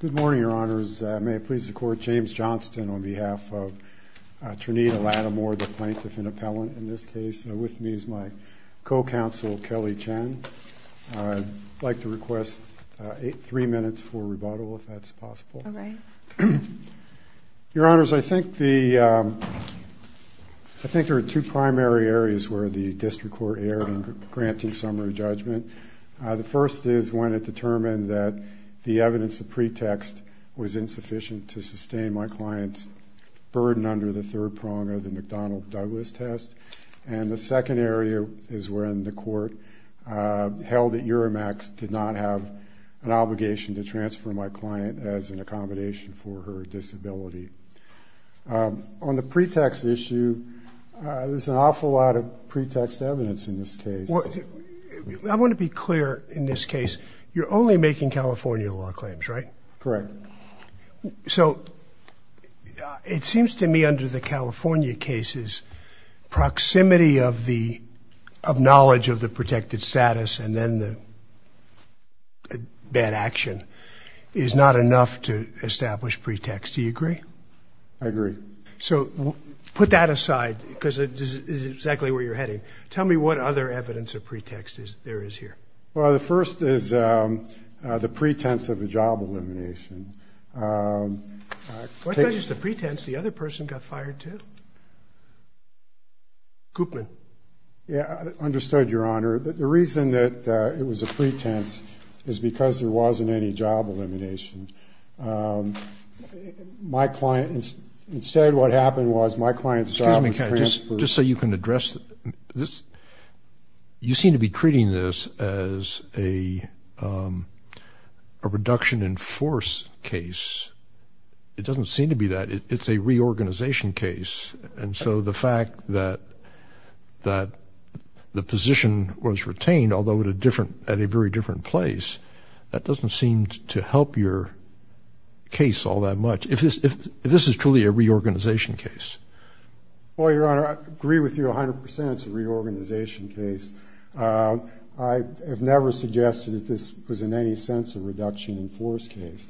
Good morning, Your Honors. May it please the Court, James Johnston on behalf of Trinita Lattimore, the plaintiff and appellant in this case. With me is my co-counsel, Kelly Chen. I'd like to request three minutes for rebuttal, if that's possible. All right. Your Honors, I think there are two primary areas where the district court erred in granting summary judgment. The first is when it determined that the evidence of pretext was insufficient to sustain my client's burden under the third prong of the McDonnell-Douglas test. And the second area is when the court held that Euramax did not have an obligation to transfer my client as an accommodation for her disability. On the pretext issue, there's an awful lot of pretext evidence in this case. I want to be clear in this case. You're only making California law claims, right? Correct. So it seems to me under the California cases, proximity of knowledge of the protected status and then the bad action is not enough to establish pretext. Do you agree? I agree. So put that aside, because this is exactly where you're heading. Tell me what other evidence of pretext there is here. Well, the first is the pretense of a job elimination. Well, it's not just a pretense. The other person got fired, too. Koopman. Yeah, understood, Your Honor. The reason that it was a pretense is because there wasn't any job elimination. My client, instead what happened was my client's job was transferred. Just so you can address this, you seem to be treating this as a reduction in force case. It doesn't seem to be that. It's a reorganization case. And so the fact that the position was retained, although at a very different place, that doesn't seem to help your case all that much, if this is truly a reorganization case. Well, Your Honor, I agree with you 100%. It's a reorganization case. I have never suggested that this was in any sense a reduction in force case.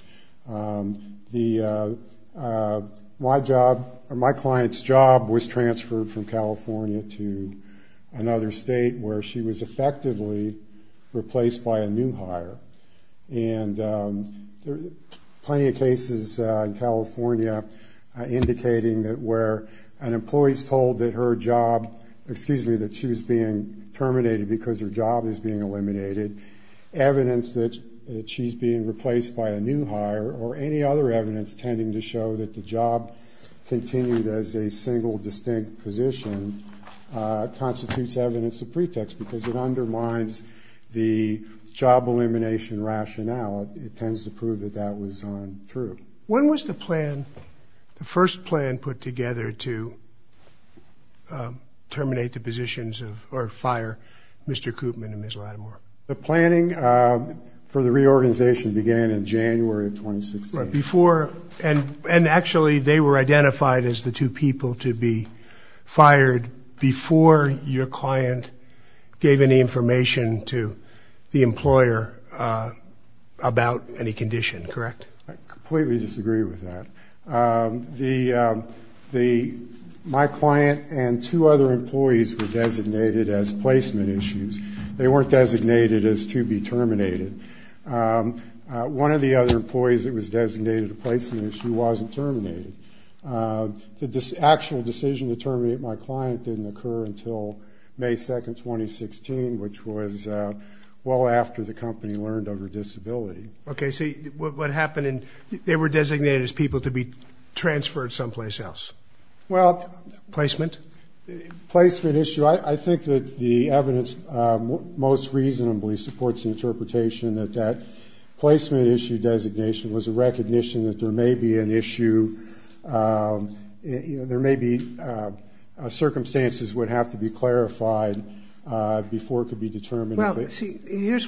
My client's job was transferred from California to another state, where she was effectively replaced by a new hire. And there are plenty of cases in California indicating that where an employee is told that her job, excuse me, that she was being terminated because her job is being eliminated, evidence that she's being replaced by a new hire, or any other evidence tending to show that the job continued as a single distinct position, constitutes evidence of pretext because it undermines the job elimination rationale. It tends to prove that that was untrue. When was the plan, the first plan, put together to terminate the positions, or fire Mr. Koopman and Ms. Lattimore? The planning for the reorganization began in January of 2016. And actually, they were identified as the two people to be fired before your client gave any information to the employer about any condition, correct? I completely disagree with that. My client and two other employees were designated as placement issues. They weren't designated as to be terminated. One of the other employees that was designated a placement issue wasn't terminated. The actual decision to terminate my client didn't occur until May 2, 2016, which was well after the company learned of her disability. OK, so what happened? They were designated as people to be transferred someplace else. Well, placement? Placement issue. I think that the evidence most reasonably supports the interpretation that that placement issue designation was a recognition that there may be an issue. There may be circumstances would have to be clarified before it could be determined. Well, see,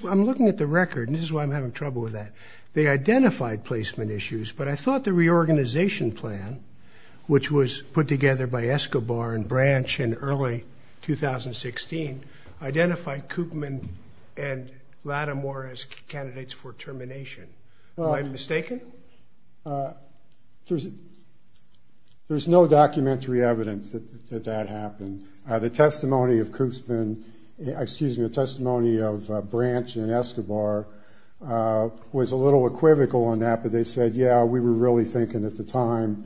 I'm looking at the record, and this is why I'm having trouble with that. They identified placement issues, but I thought the reorganization plan, which was put together by Escobar and Branch in early 2016, identified Koopman and Lattimore as candidates for termination. Am I mistaken? There's no documentary evidence that that happened. The testimony of Koopman, excuse me, the testimony of Branch and Escobar was a little equivocal on that. But they said, yeah, we were really thinking at the time,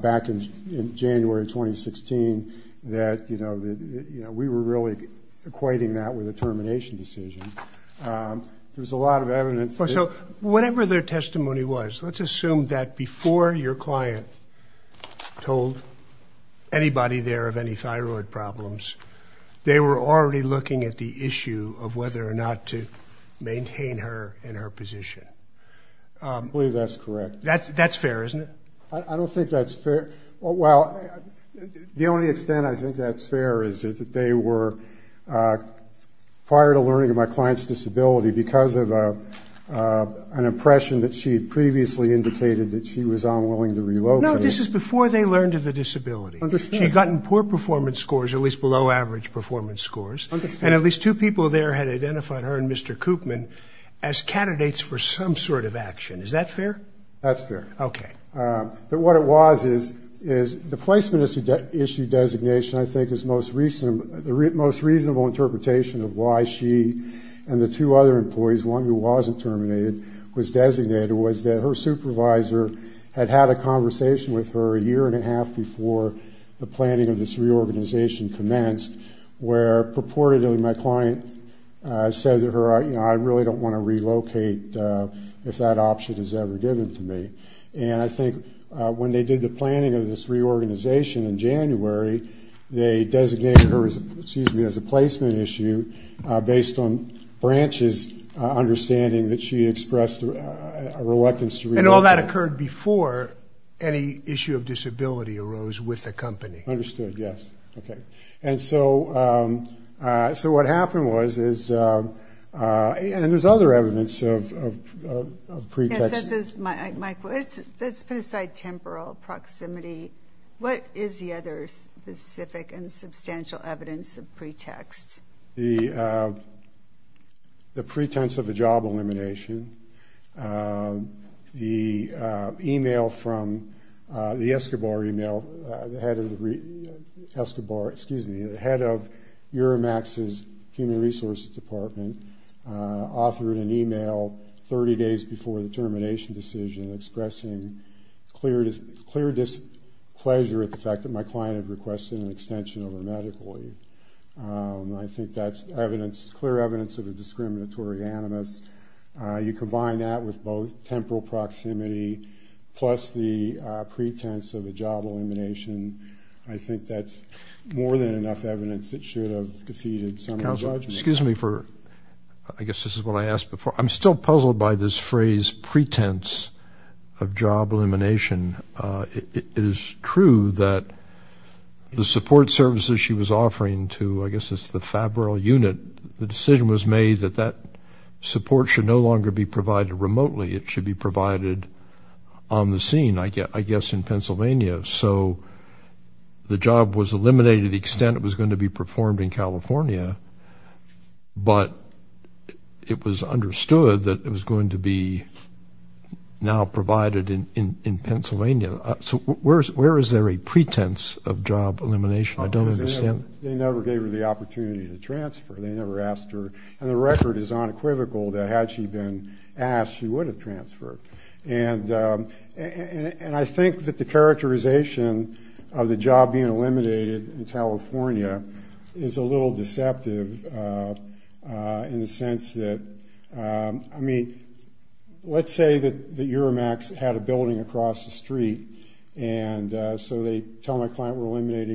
back in January 2016, that we were really equating that with a termination decision. There's a lot of evidence. So whatever their testimony was, let's assume that before your client told anybody there of any thyroid problems, they were already looking at the issue of whether or not to maintain her in her position. I believe that's correct. That's fair, isn't it? I don't think that's fair. Well, the only extent I think that's fair is that they were, prior to learning of my client's disability, because of an impression that she had previously indicated that she was unwilling to relocate. No, this is before they learned of the disability. I understand. She had gotten poor performance scores, at least below average performance scores. And at least two people there had identified her and Mr. Koopman as candidates for some sort of action. Is that fair? That's fair. OK. But what it was is the placement issue designation, I think, is the most reasonable interpretation of why she and the two other employees, one who wasn't terminated, was designated, was that her supervisor had had a conversation with her a year and a half before the planning of this reorganization commenced, where purportedly my client said to her, I really don't want to relocate if that option is ever given to me. And I think when they did the planning of this reorganization in January, they designated her as a placement issue based on Branch's understanding that she expressed a reluctance to relocate. And all that occurred before any issue of disability arose with the company. Understood. Yes. OK. And so what happened was is, and there's other evidence of pretext. Mike, let's put aside temporal proximity. What is the other specific and substantial evidence of pretext? The pretense of a job elimination. The email from the Escobar email, the head of the Escobar, excuse me, the head of Euromax's Human Resources Department authored an email 30 days before the termination decision expressing clear displeasure at the fact that my client had requested an extension of her medical leave. I think that's evidence, clear evidence of a discriminatory animus. You combine that with both temporal proximity plus the pretense of a job elimination, I think that's more than enough evidence that should have defeated some of the judgment. Excuse me for, I guess this is what I asked before. I'm still puzzled by this phrase pretense of job elimination. It is true that the support services she was offering to, I guess it's the Fabril unit, the decision was made that that support should no longer be provided remotely. It should be provided on the scene, I guess, in Pennsylvania. So the job was eliminated to the extent it was going to be performed in California, but it was understood that it was going to be now provided in Pennsylvania. So where is there a pretense of job elimination? I don't understand. They never gave her the opportunity to transfer. They never asked her. And the record is unequivocal that had she been asked, she would have transferred. And I think that the characterization of the job being eliminated in California is a little deceptive in the sense that, I mean, let's say that the Euromax had a building across the street, and so they tell my client, we're eliminated,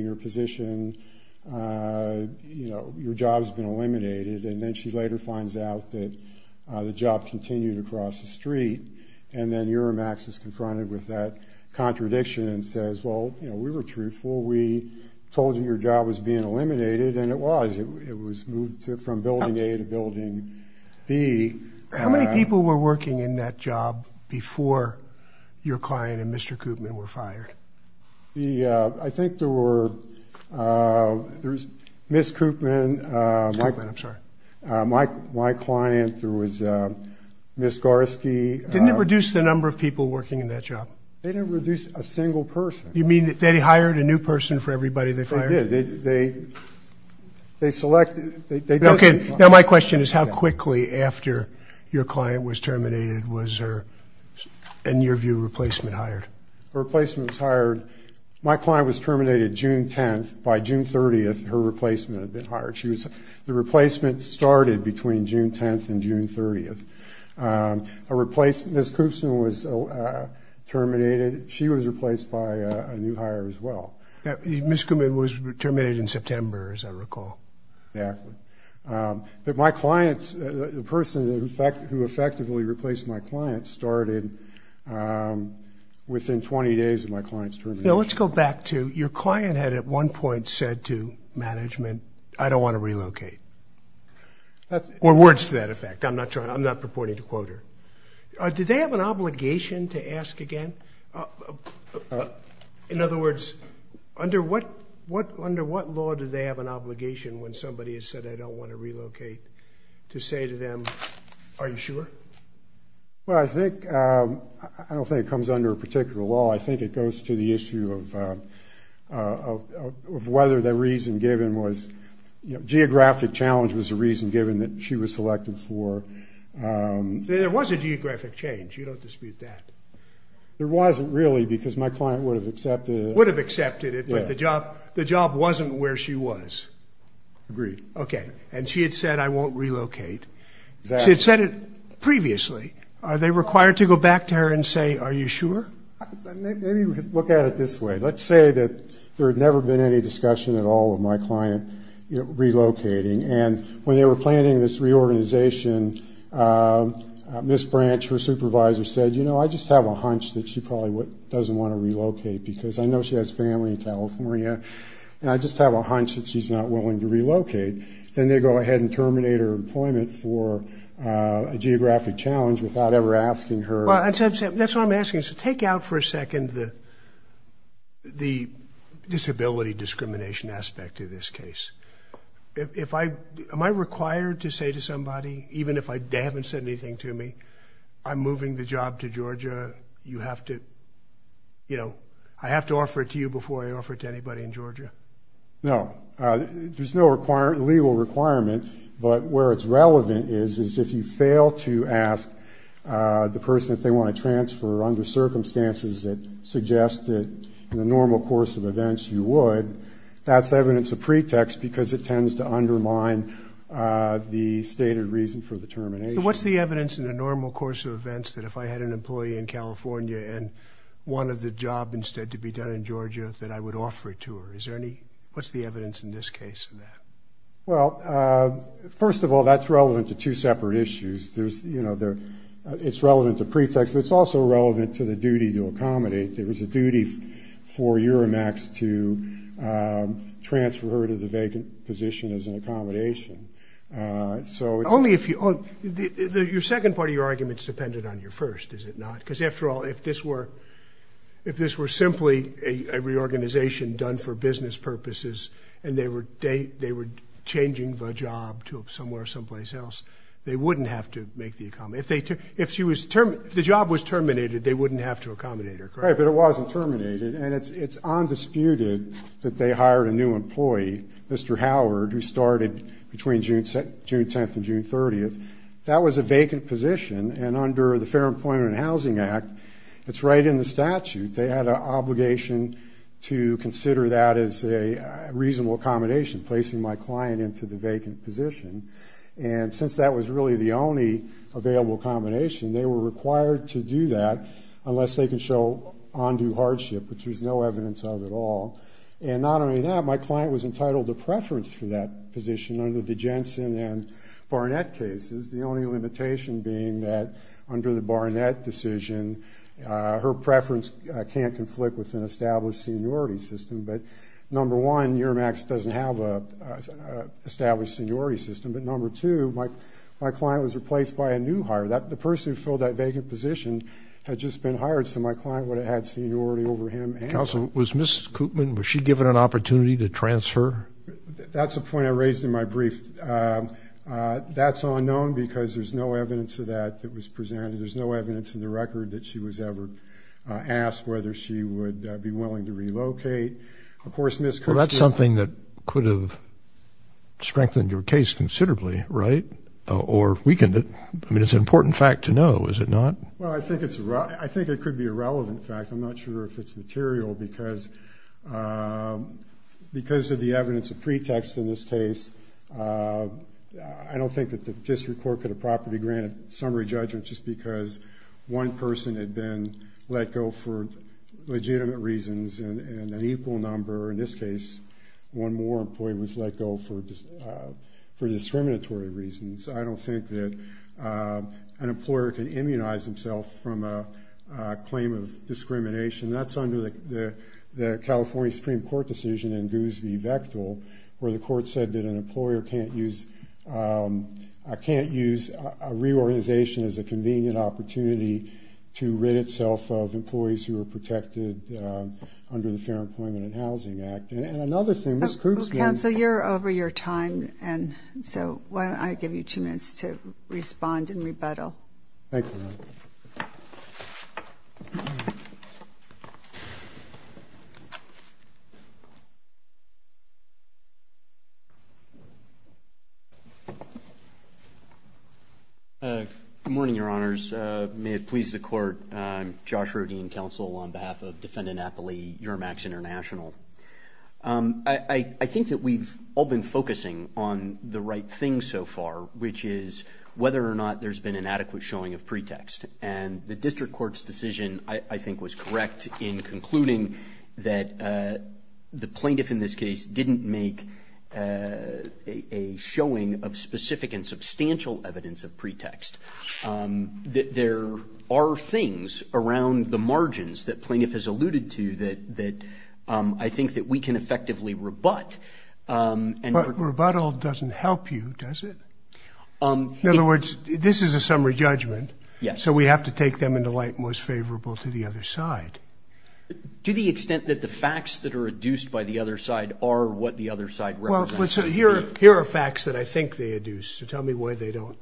and then she later finds out that the job continued across the street. And then Euromax is confronted with that contradiction and says, well, we were truthful. We told you your job was being eliminated, and it was. It was moved from building A to building B. How many people were working in that job before your client and Mr. Koopman were fired? Yeah, I think there was Ms. Koopman, my client, there was Ms. Gorski. Didn't it reduce the number of people working in that job? They didn't reduce a single person. You mean that they hired a new person for everybody they fired? They did. They selected. Now my question is, how quickly after your client was terminated was her, in your view, replacement hired? Her replacement was hired. My client was terminated June 10th. By June 30th, her replacement had been hired. The replacement started between June 10th and June 30th. Ms. Koopman was terminated. She was replaced by a new hire as well. Ms. Koopman was terminated in September, as I recall. Exactly. But my clients, the person who effectively replaced my client started within 20 days of my client's termination. Now let's go back to, your client had at one point said to management, I don't want to relocate. Or words to that effect. I'm not trying, I'm not purporting to quote her. Did they have an obligation to ask again? In other words, under what law do they have an obligation when somebody has said, I don't want to relocate, to say to them, are you sure? Well, I think, I don't think it comes under a particular law. I think it goes to the issue of whether the reason given was, geographic challenge was a reason given that she was selected for. There was a geographic change. You don't dispute that. There wasn't really, because my client would have accepted it. Would have accepted it, but the job wasn't where she was. Agreed. OK. And she had said, I won't relocate. She had said it previously. Are they required to go back to her and say, are you sure? Maybe look at it this way. Let's say that there had never been any discussion at all of my client relocating. And when they were planning this reorganization, Ms. Branch, her supervisor said, you know, I just have a hunch that she probably doesn't want to relocate because I know she has family in California. And I just have a hunch that she's not willing to relocate. Then they go ahead and terminate her employment for a geographic challenge without ever asking her. Well, that's what I'm asking. So take out for a second the disability discrimination aspect of this case. Am I required to say to somebody, even if they haven't said anything to me, I'm moving the job to Georgia. You have to, you know, I have to offer it to you before I offer it to anybody in Georgia. No. There's no legal requirement. But where it's relevant is if you fail to ask the person if they want to transfer under circumstances that suggest that in the normal course of events you would, that's evidence of pretext because it tends to undermine the stated reason for the termination. What's the evidence in a normal course of events that if I had an employee in California and wanted the job instead to be done in Georgia that I would offer it to her? What's the evidence in this case in that? Well, first of all, that's relevant to two separate issues. It's relevant to pretext, but it's also relevant to the duty to accommodate. There is a duty for Euromax to transfer her to the vacant position as an accommodation. Only if you, your second part of your argument is dependent on your first, is it not? Because after all, if this were simply a reorganization done for business purposes and they were changing the job to somewhere someplace else, they wouldn't have to make the accommodation. If the job was terminated, they wouldn't have to accommodate her, correct? Right, but it wasn't terminated. And it's undisputed that they hired a new employee, Mr. Howard, who started between June 10 and June 30. That was a vacant position. And under the Fair Employment and Housing Act, it's right in the statute. They had an obligation to consider that as a reasonable accommodation, placing my client into the vacant position. And since that was really the only available combination, they were required to do that unless they could show undue hardship, which there's no evidence of at all. And not only that, my client was entitled to preference for that position under the Jensen and Barnett cases, the only limitation being that under the Barnett decision, her preference can't conflict with an established seniority system. But number one, Euromax doesn't have an established seniority system. But number two, my client was replaced by a new hire. The person who filled that vacant position had just been hired, so my client would have had seniority over him. Counsel, was Ms. Koopman, was she given an opportunity to transfer? That's a point I raised in my brief. That's unknown because there's no evidence of that that was presented. There's no evidence in the record that she was ever asked whether she would be willing to relocate. Of course, Ms. Koopman. Well, that's something that could have strengthened your case considerably, right? Or weakened it. I mean, it's an important fact to know, is it not? Well, I think it could be a relevant fact. I'm not sure if it's material because of the evidence of pretext in this case. I don't think that the district court could have properly granted summary judgment just because one person had been let go for legitimate reasons, and an equal number, in this case, one more employee was let go for discriminatory reasons. I don't think that an employer can immunize himself from a claim of discrimination. That's under the California Supreme Court decision in Goosby-Vectil, where the court said that an employer can't use a reorganization as a convenient opportunity to rid itself of employees who are protected under the Fair Employment and Housing Act. And another thing, Ms. Koopsman. Well, counsel, you're over your time. And so why don't I give you two minutes to respond in rebuttal. Thank you. Good morning, Your Honors. May it please the court. I'm Josh Rodin, counsel, on behalf of Defendant Appley, Euromax International. I think that we've all been focusing on the right thing so far, which is whether or not there's been an adequate showing of pretext. And the district court's decision, I think, was correct in concluding that the plaintiff in this case didn't make a showing of specific and substantial evidence of pretext. That there are things around the margins that plaintiff has alluded to that I think that we can effectively rebut. But rebuttal doesn't help you, does it? In other words, this is a summary judgment, so we have to take them into light most favorable to the other side. To the extent that the facts that are adduced by the other side are what the other side represents. Well, so here are facts that I think they adduce. So tell me why they don't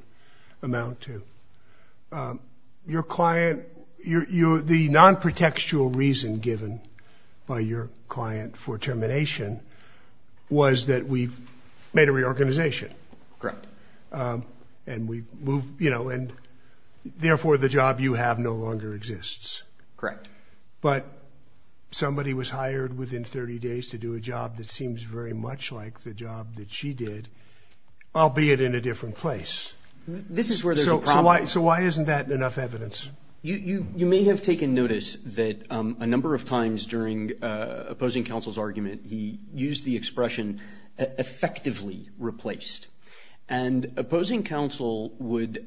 amount to. Your client, the non-pretextual reason given by your client for termination was that we've made a reorganization. Correct. And we've moved, you know, and therefore the job you have no longer exists. Correct. But somebody was hired within 30 days to do a job that seems very much like the job that she did, albeit in a different place. This is where there's a problem. So why isn't that enough evidence? You may have taken notice that a number of times during opposing counsel's argument, he used the expression effectively replaced. And opposing counsel would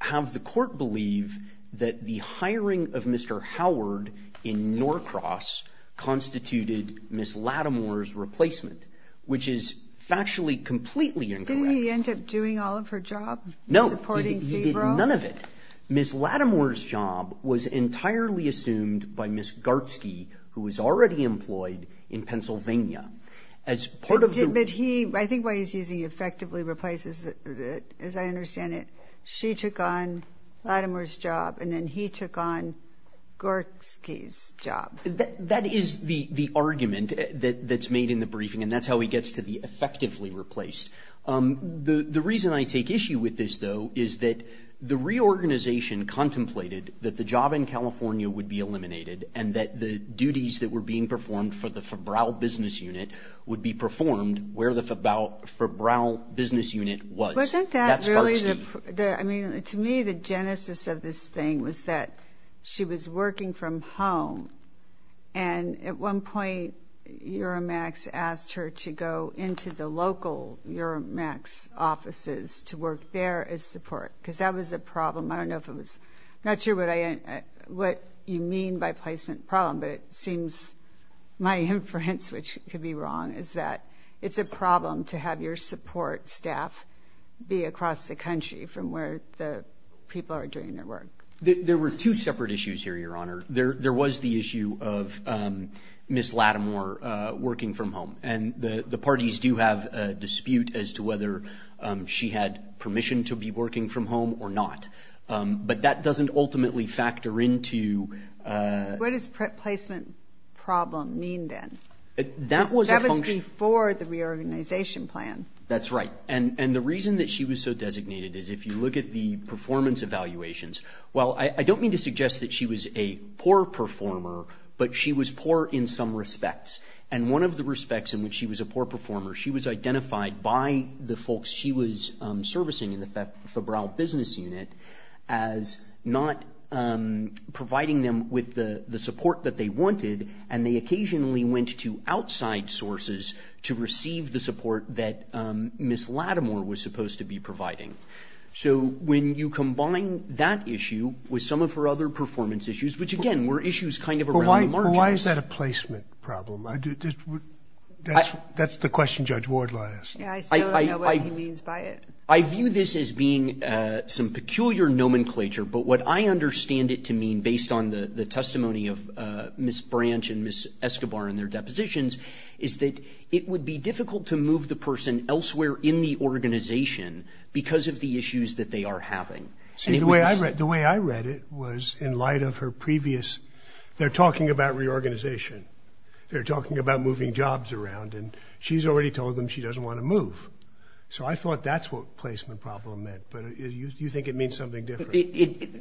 have the court believe that the hiring of Mr. Howard in Norcross constituted Ms. Lattimore's replacement, which is factually completely incorrect. Didn't he end up doing all of her job? No, he did none of it. Ms. Lattimore's job was entirely assumed by Ms. Gartsky, who was already employed in Pennsylvania. As part of the- I think why he's using effectively replaces, as I understand it, she took on Lattimore's job, and then he took on Gartsky's job. That is the argument that's made in the briefing, and that's how he gets to the effectively replaced. The reason I take issue with this, though, is that the reorganization contemplated that the job in California would be eliminated and that the duties that were being performed for the Fabrau business unit would be performed where the Fabrau business unit was. Wasn't that really the- I mean, to me, the genesis of this thing was that she was working from home, and at one point, Euromax asked her to go into the local Euromax offices to work there as support, because that was a problem. I don't know if it was- not sure what you mean by placement problem, but it seems my inference, which could be wrong, is that it's a problem to have your support staff be across the country from where the people are doing their work. There were two separate issues here, Your Honor. There was the issue of Ms. Lattimore working from home, and the parties do have a dispute as to whether she had permission to be working from home or not, but that doesn't ultimately factor into- What does placement problem mean, then? That was a function- That was before the reorganization plan. That's right, and the reason that she was so designated is if you look at the performance evaluations, well, I don't mean to suggest that she was a poor performer, but she was poor in some respects, and one of the respects in which she was a poor performer, she was identified by the folks she was servicing in the Fabrau business unit as not providing them with the support that they wanted, and they occasionally went to outside sources to receive the support that Ms. Lattimore was supposed to be providing. So when you combine that issue with some of her other performance issues, which, again, were issues kind of around the margins- Well, why is that a placement problem? That's the question Judge Ward last- Yeah, I still don't know what he means by it. I view this as being some peculiar nomenclature, but what I understand it to mean based on the testimony of Ms. Branch and Ms. Escobar and their depositions is that it would be difficult to move the person elsewhere in the organization because of the issues that they are having. See, the way I read it was in light of her previous- They're talking about reorganization. They're talking about moving jobs around, and she's already told them she doesn't want to move, so I thought that's what placement problem meant, but you think it means something different.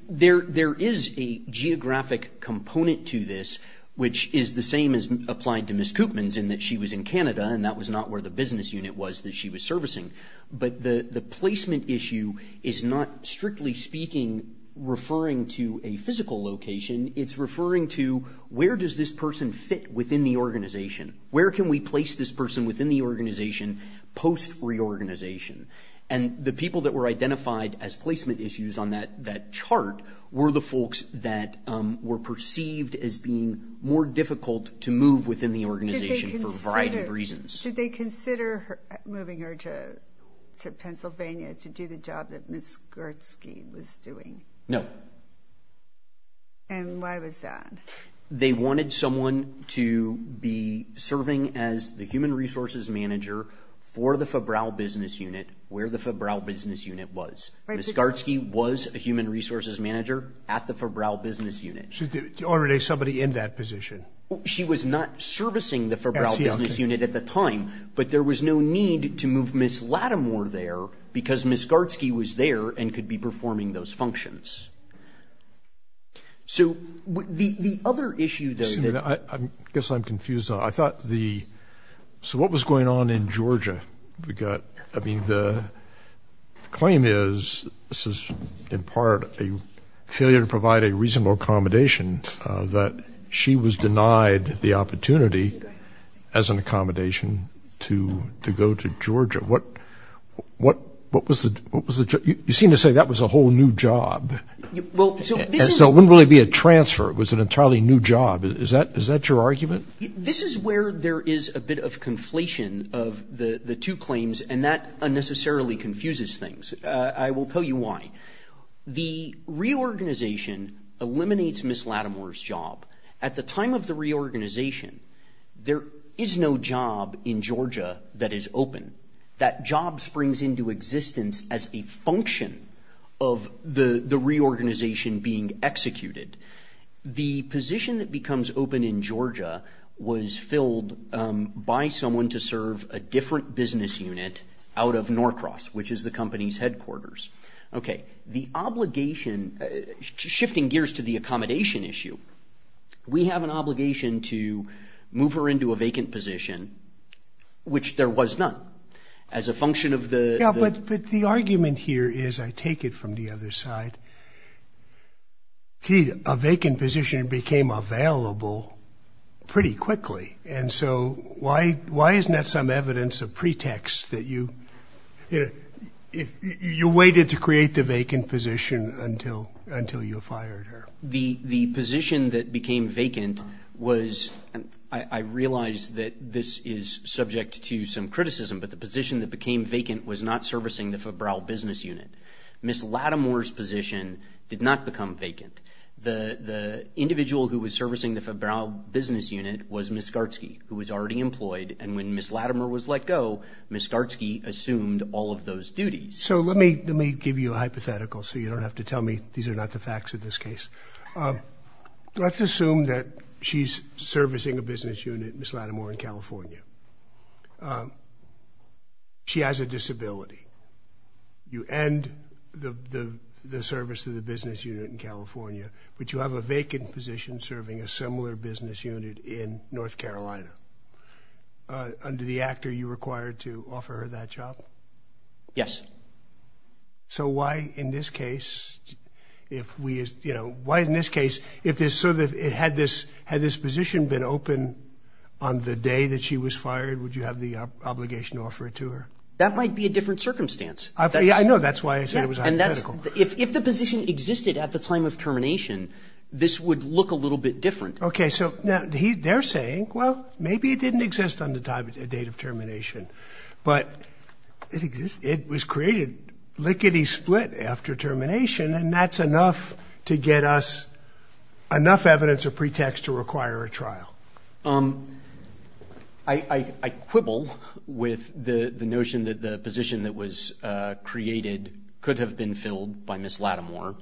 There is a geographic component to this, which is the same as applied to Ms. Koopmans in that she was in Canada, and that was not where the business unit was that she was servicing, but the placement issue is not, strictly speaking, referring to a physical location. It's referring to where does this person fit within the organization? Where can we place this person within the organization post-reorganization? And the people that were identified as placement issues on that chart were the folks that were perceived as being more difficult to move within the organization for a variety of reasons. Did they consider moving her to Pennsylvania to do the job that Ms. Gertzke was doing? No. And why was that? They wanted someone to be serving as the human resources manager for the Fabrau Business Unit where the Fabrau Business Unit was. Ms. Gertzke was a human resources manager at the Fabrau Business Unit. So there was already somebody in that position. She was not servicing the Fabrau Business Unit at the time, but there was no need to move Ms. Lattimore there because Ms. Gertzke was there and could be performing those functions. So the other issue, though- Excuse me, I guess I'm confused. I thought the, so what was going on in Georgia? We got, I mean, the claim is, this is in part a failure to provide a reasonable accommodation that she was denied the opportunity as an accommodation to go to Georgia. What was the, you seem to say that was a whole new job. Well, so this is- So it wouldn't really be a transfer. It was an entirely new job. Is that your argument? This is where there is a bit of conflation of the two claims, and that unnecessarily confuses things. I will tell you why. The reorganization eliminates Ms. Lattimore's job. At the time of the reorganization, there is no job in Georgia that is open. That job springs into existence as a function of the reorganization being executed. The position that becomes open in Georgia was filled by someone to serve a different business unit out of Norcross, which is the company's headquarters. Okay. The obligation, shifting gears to the accommodation issue, we have an obligation to move her into a vacant position, which there was none, as a function of the- Yeah, but the argument here is, I take it from the other side, that a vacant position became available pretty quickly. And so why isn't that some evidence of pretext that you waited to create the vacant position until you fired her? The position that became vacant was, I realize that this is subject to some criticism, but the position that became vacant was not servicing the Fabrau business unit. Ms. Latimer's position did not become vacant. The individual who was servicing the Fabrau business unit was Ms. Gartsky, who was already employed. And when Ms. Latimer was let go, Ms. Gartsky assumed all of those duties. So let me give you a hypothetical so you don't have to tell me these are not the facts of this case. Let's assume that she's servicing a business unit, Ms. Latimer, in California. She has a disability. You end the service of the business unit in California, but you have a vacant position serving a similar business unit in North Carolina. Under the actor, you're required to offer her that job? Yes. So why in this case, if we, you know, why in this case, if this, had this position been open on the day that she was fired, would you have the obligation to offer it to her? That might be a different circumstance. I know, that's why I said it was hypothetical. If the position existed at the time of termination, this would look a little bit different. Okay, so now they're saying, well, maybe it didn't exist on the date of termination, but it was created lickety split after termination and that's enough to get us enough evidence or pretext to require a trial. Um, I quibble with the notion that the position that was created could have been filled by Ms. Latimer,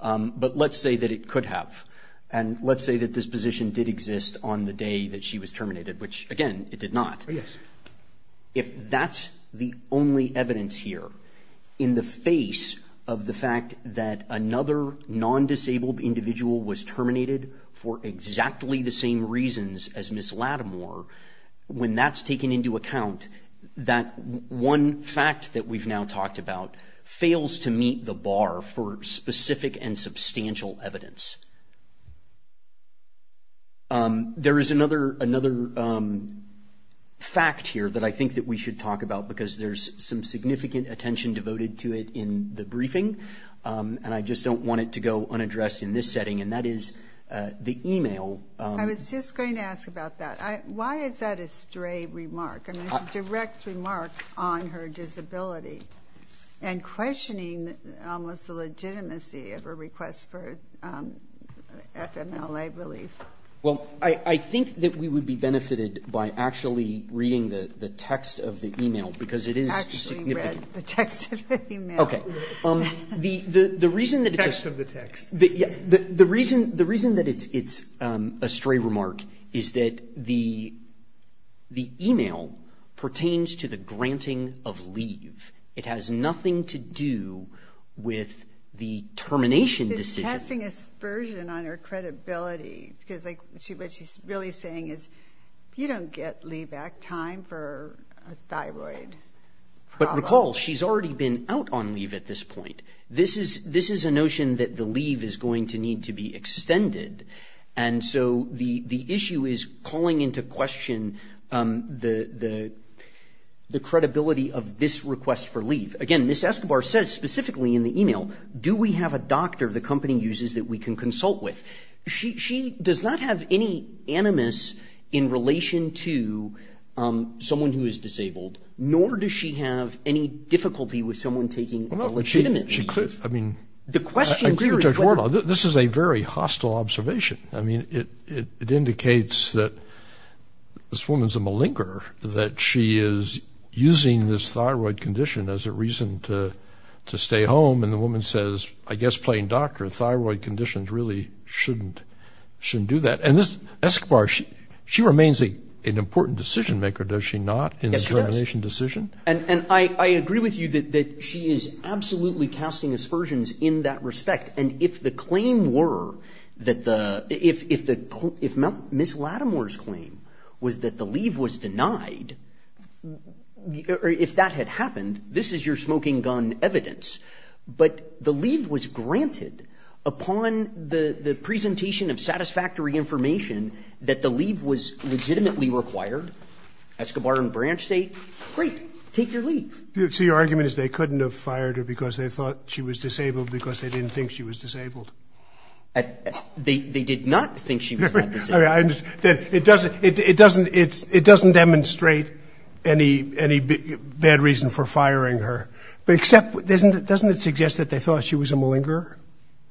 but let's say that it could have. And let's say that this position did exist on the day that she was terminated, which again, it did not. Oh, yes. If that's the only evidence here in the face of the fact that another non-disabled individual was terminated for exactly the same reasons as Ms. Latimer, when that's taken into account, that one fact that we've now talked about fails to meet the bar for specific and substantial evidence. There is another fact here that I think that we should talk about because there's some significant attention devoted to it in the briefing. And I just don't want it to go unaddressed in this setting. And that is the email. I was just going to ask about that. Why is that a stray remark? I mean, it's a direct remark on her disability and questioning almost the legitimacy of her request for FMLA relief. Well, I think that we would be benefited by actually reading the text of the email because it is significant. Actually read the text of the email. Okay. The reason that it's... The text of the text. The reason that it's a stray remark is that the email pertains to the granting of leave. It has nothing to do with the termination decision. It's passing a spurs in on her credibility because what she's really saying is, you don't get leave back time for a thyroid problem. But recall, she's already been out on leave at this point. This is a notion that the leave is going to need to be extended. And so the issue is calling into question the credibility of this request for leave. Again, Ms. Escobar says specifically in the email, do we have a doctor the company uses that we can consult with? She does not have any animus in relation to someone who is disabled, nor does she have any difficulty with someone taking a legitimate leave. I mean, I agree with Judge Wardlaw. This is a very hostile observation. I mean, it indicates that this woman's a malinger, that she is using this thyroid condition as a reason to stay home. And the woman says, I guess, plain doctor, thyroid conditions really shouldn't do that. And Ms. Escobar, she remains an important decision maker, does she not, in the termination decision? And I agree with you that she is absolutely casting aspersions in that respect. And if the claim were that the, if Ms. Lattimore's claim was that the leave was denied, or if that had happened, this is your smoking gun evidence, but the leave was granted upon the presentation of satisfactory information, that the leave was legitimately required, Escobar and Branch say, great, take your leave. So your argument is they couldn't have fired her because they thought she was disabled because they didn't think she was disabled. They did not think she was not disabled. I understand, it doesn't demonstrate any bad reason for firing her, but except, doesn't it suggest that they thought she was a malinger?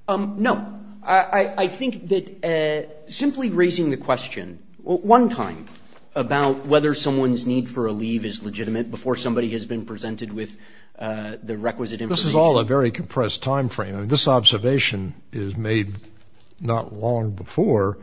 No, I think that simply raising the question, one time, about whether someone's need for a leave is legitimate before somebody has been presented with the requisite information. This is all a very compressed timeframe. I mean, this observation is made not long before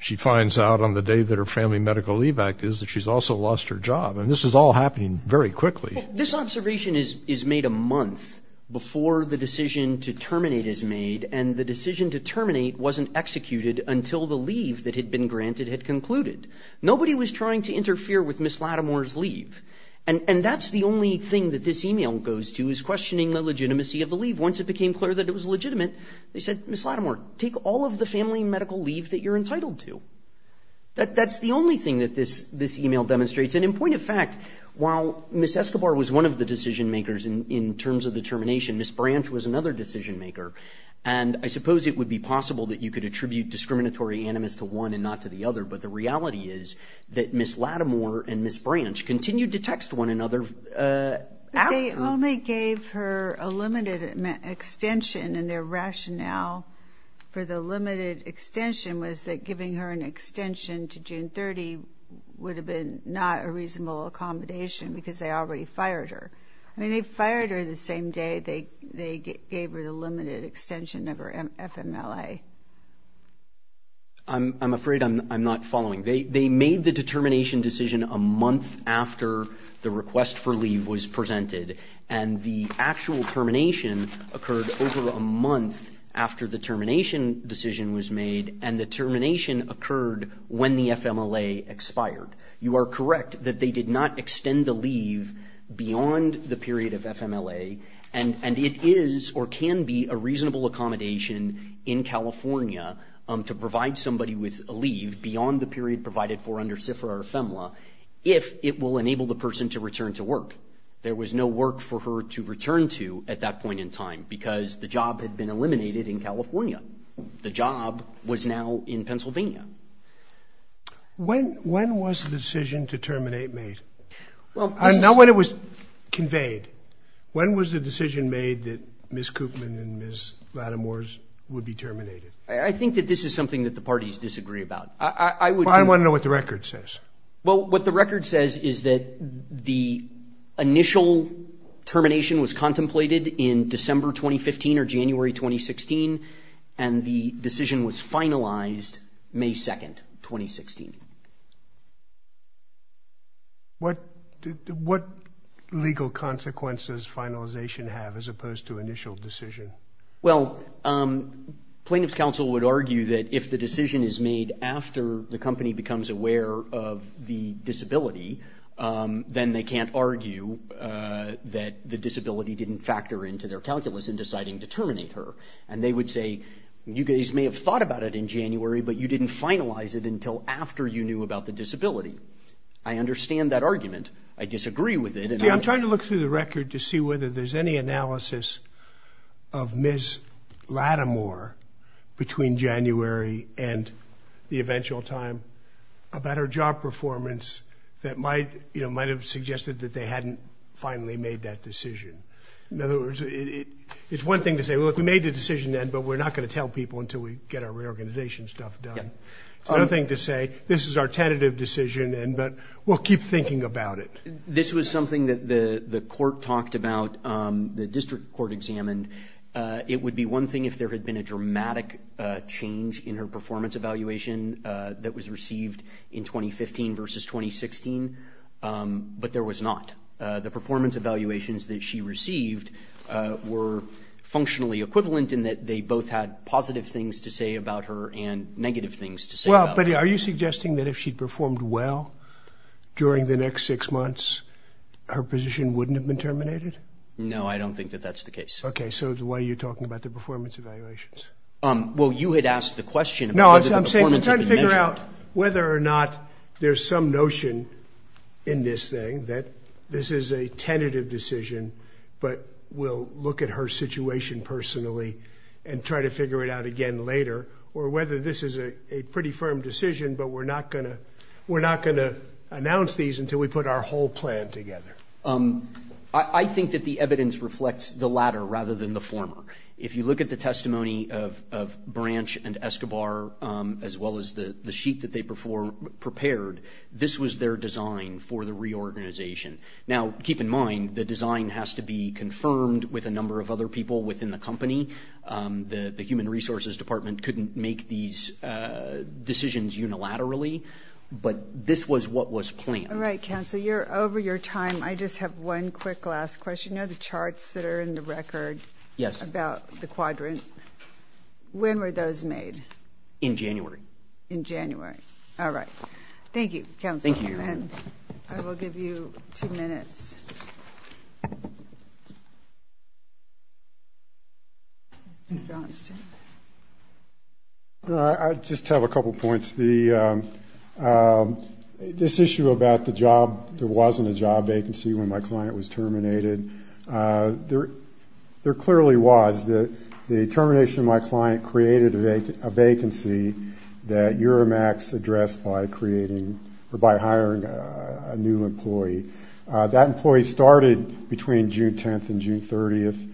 she finds out on the day that her family medical leave act is that she's also lost her job. And this is all happening very quickly. This observation is made a month before the decision to terminate is made. And the decision to terminate wasn't executed until the leave that had been granted had concluded. Nobody was trying to interfere with Ms. Lattimore's leave. And that's the only thing that this email goes to is questioning the legitimacy of the leave. Once it became clear that it was legitimate, they said, Ms. Lattimore, take all of the family medical leave that you're entitled to. That's the only thing that this email demonstrates. And in point of fact, while Ms. Escobar was one of the decision makers in terms of the termination, Ms. Branch was another decision maker. And I suppose it would be possible that you could attribute discriminatory animus to one and not to the other. But the reality is that Ms. Lattimore and Ms. Branch continued to text one another. They only gave her a limited extension and their rationale for the limited extension was that giving her an extension to June 30 would have been not a reasonable accommodation because they already fired her. I mean, they fired her the same day they gave her the limited extension of her FMLA. I'm afraid I'm not following. They made the determination decision a month after the request for leave was presented. And the actual termination occurred over a month after the termination decision was made. And the termination occurred when the FMLA expired. You are correct that they did not extend the leave beyond the period of FMLA. And it is or can be a reasonable accommodation in California to provide somebody with a leave beyond the period provided for under CFRA or FMLA if it will enable the person to return to work. There was no work for her to return to at that point in time because the job had been eliminated in California. The job was now in Pennsylvania. When was the decision to terminate made? I know when it was conveyed. When was the decision made that Ms. Koopman and Ms. Lattimore's would be terminated? I think that this is something that the parties disagree about. I would- Well, I wanna know what the record says. Well, what the record says is that the initial termination was contemplated in December, 2015 or January, 2016. And the decision was finalized May 2nd, 2016. What legal consequences finalization have as opposed to initial decision? Well, Plaintiff's Council would argue that if the decision is made after the company becomes aware of the disability, then they can't argue that the disability didn't factor into their calculus in deciding to terminate her. And they would say, you guys may have thought about it in January, but you didn't finalize it until after January. Before you knew about the disability. I understand that argument. I disagree with it. Yeah, I'm trying to look through the record to see whether there's any analysis of Ms. Lattimore between January and the eventual time about her job performance that might have suggested that they hadn't finally made that decision. In other words, it's one thing to say, well, if we made the decision then, but we're not gonna tell people until we get our reorganization stuff done. It's another thing to say, this is our tentative decision, but we'll keep thinking about it. This was something that the court talked about, the district court examined. It would be one thing if there had been a dramatic change in her performance evaluation that was received in 2015 versus 2016, but there was not. The performance evaluations that she received were functionally equivalent in that they both had positive things to say about her and negative things to say about her. Well, but are you suggesting that if she'd performed well during the next six months, her position wouldn't have been terminated? No, I don't think that that's the case. Okay, so why are you talking about the performance evaluations? Well, you had asked the question about whether the performance had been measured. No, I'm saying try to figure out whether or not there's some notion in this thing that this is a tentative decision, but we'll look at her situation personally and try to figure it out again later, or whether this is a pretty firm decision, but we're not gonna announce these until we put our whole plan together. I think that the evidence reflects the latter rather than the former. If you look at the testimony of Branch and Escobar, as well as the sheet that they prepared, this was their design for the reorganization. Now, keep in mind, the design has to be confirmed with a number of other people within the company. The Human Resources Department couldn't make these decisions unilaterally, but this was what was planned. All right, Counsel, you're over your time. I just have one quick last question. You know the charts that are in the record about the quadrant? When were those made? In January. In January, all right. Thank you, Counsel. Thank you. I will give you two minutes. John, it's Tim. I just have a couple points. This issue about the job, there wasn't a job vacancy when my client was terminated. There clearly was. The termination of my client created a vacancy that Euromax addressed by creating, or by hiring a new employee. That employee started between June 10th and June 30th,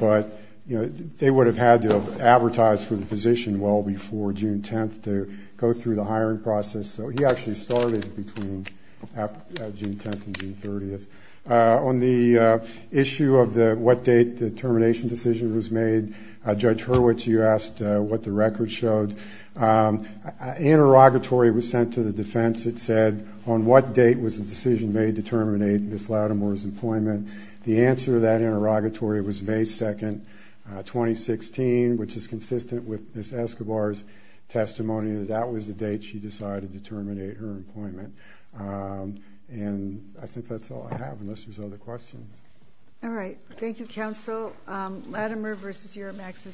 but they would have had to advertise for the position well before June 10th to go through the hiring process, so he actually started between June 10th and June 30th. On the issue of what date the termination decision was made, Judge Hurwitz, you asked what the record showed. Interrogatory was sent to the defense. It said, on what date was the decision made to terminate Ms. Lattimore's employment? The answer to that interrogatory was May 2nd, 2016, which is consistent with Ms. Escobar's testimony that that was the date she decided to terminate her employment. And I think that's all I have, unless there's other questions. All right, thank you, Counsel. Lattimore v. Euromax.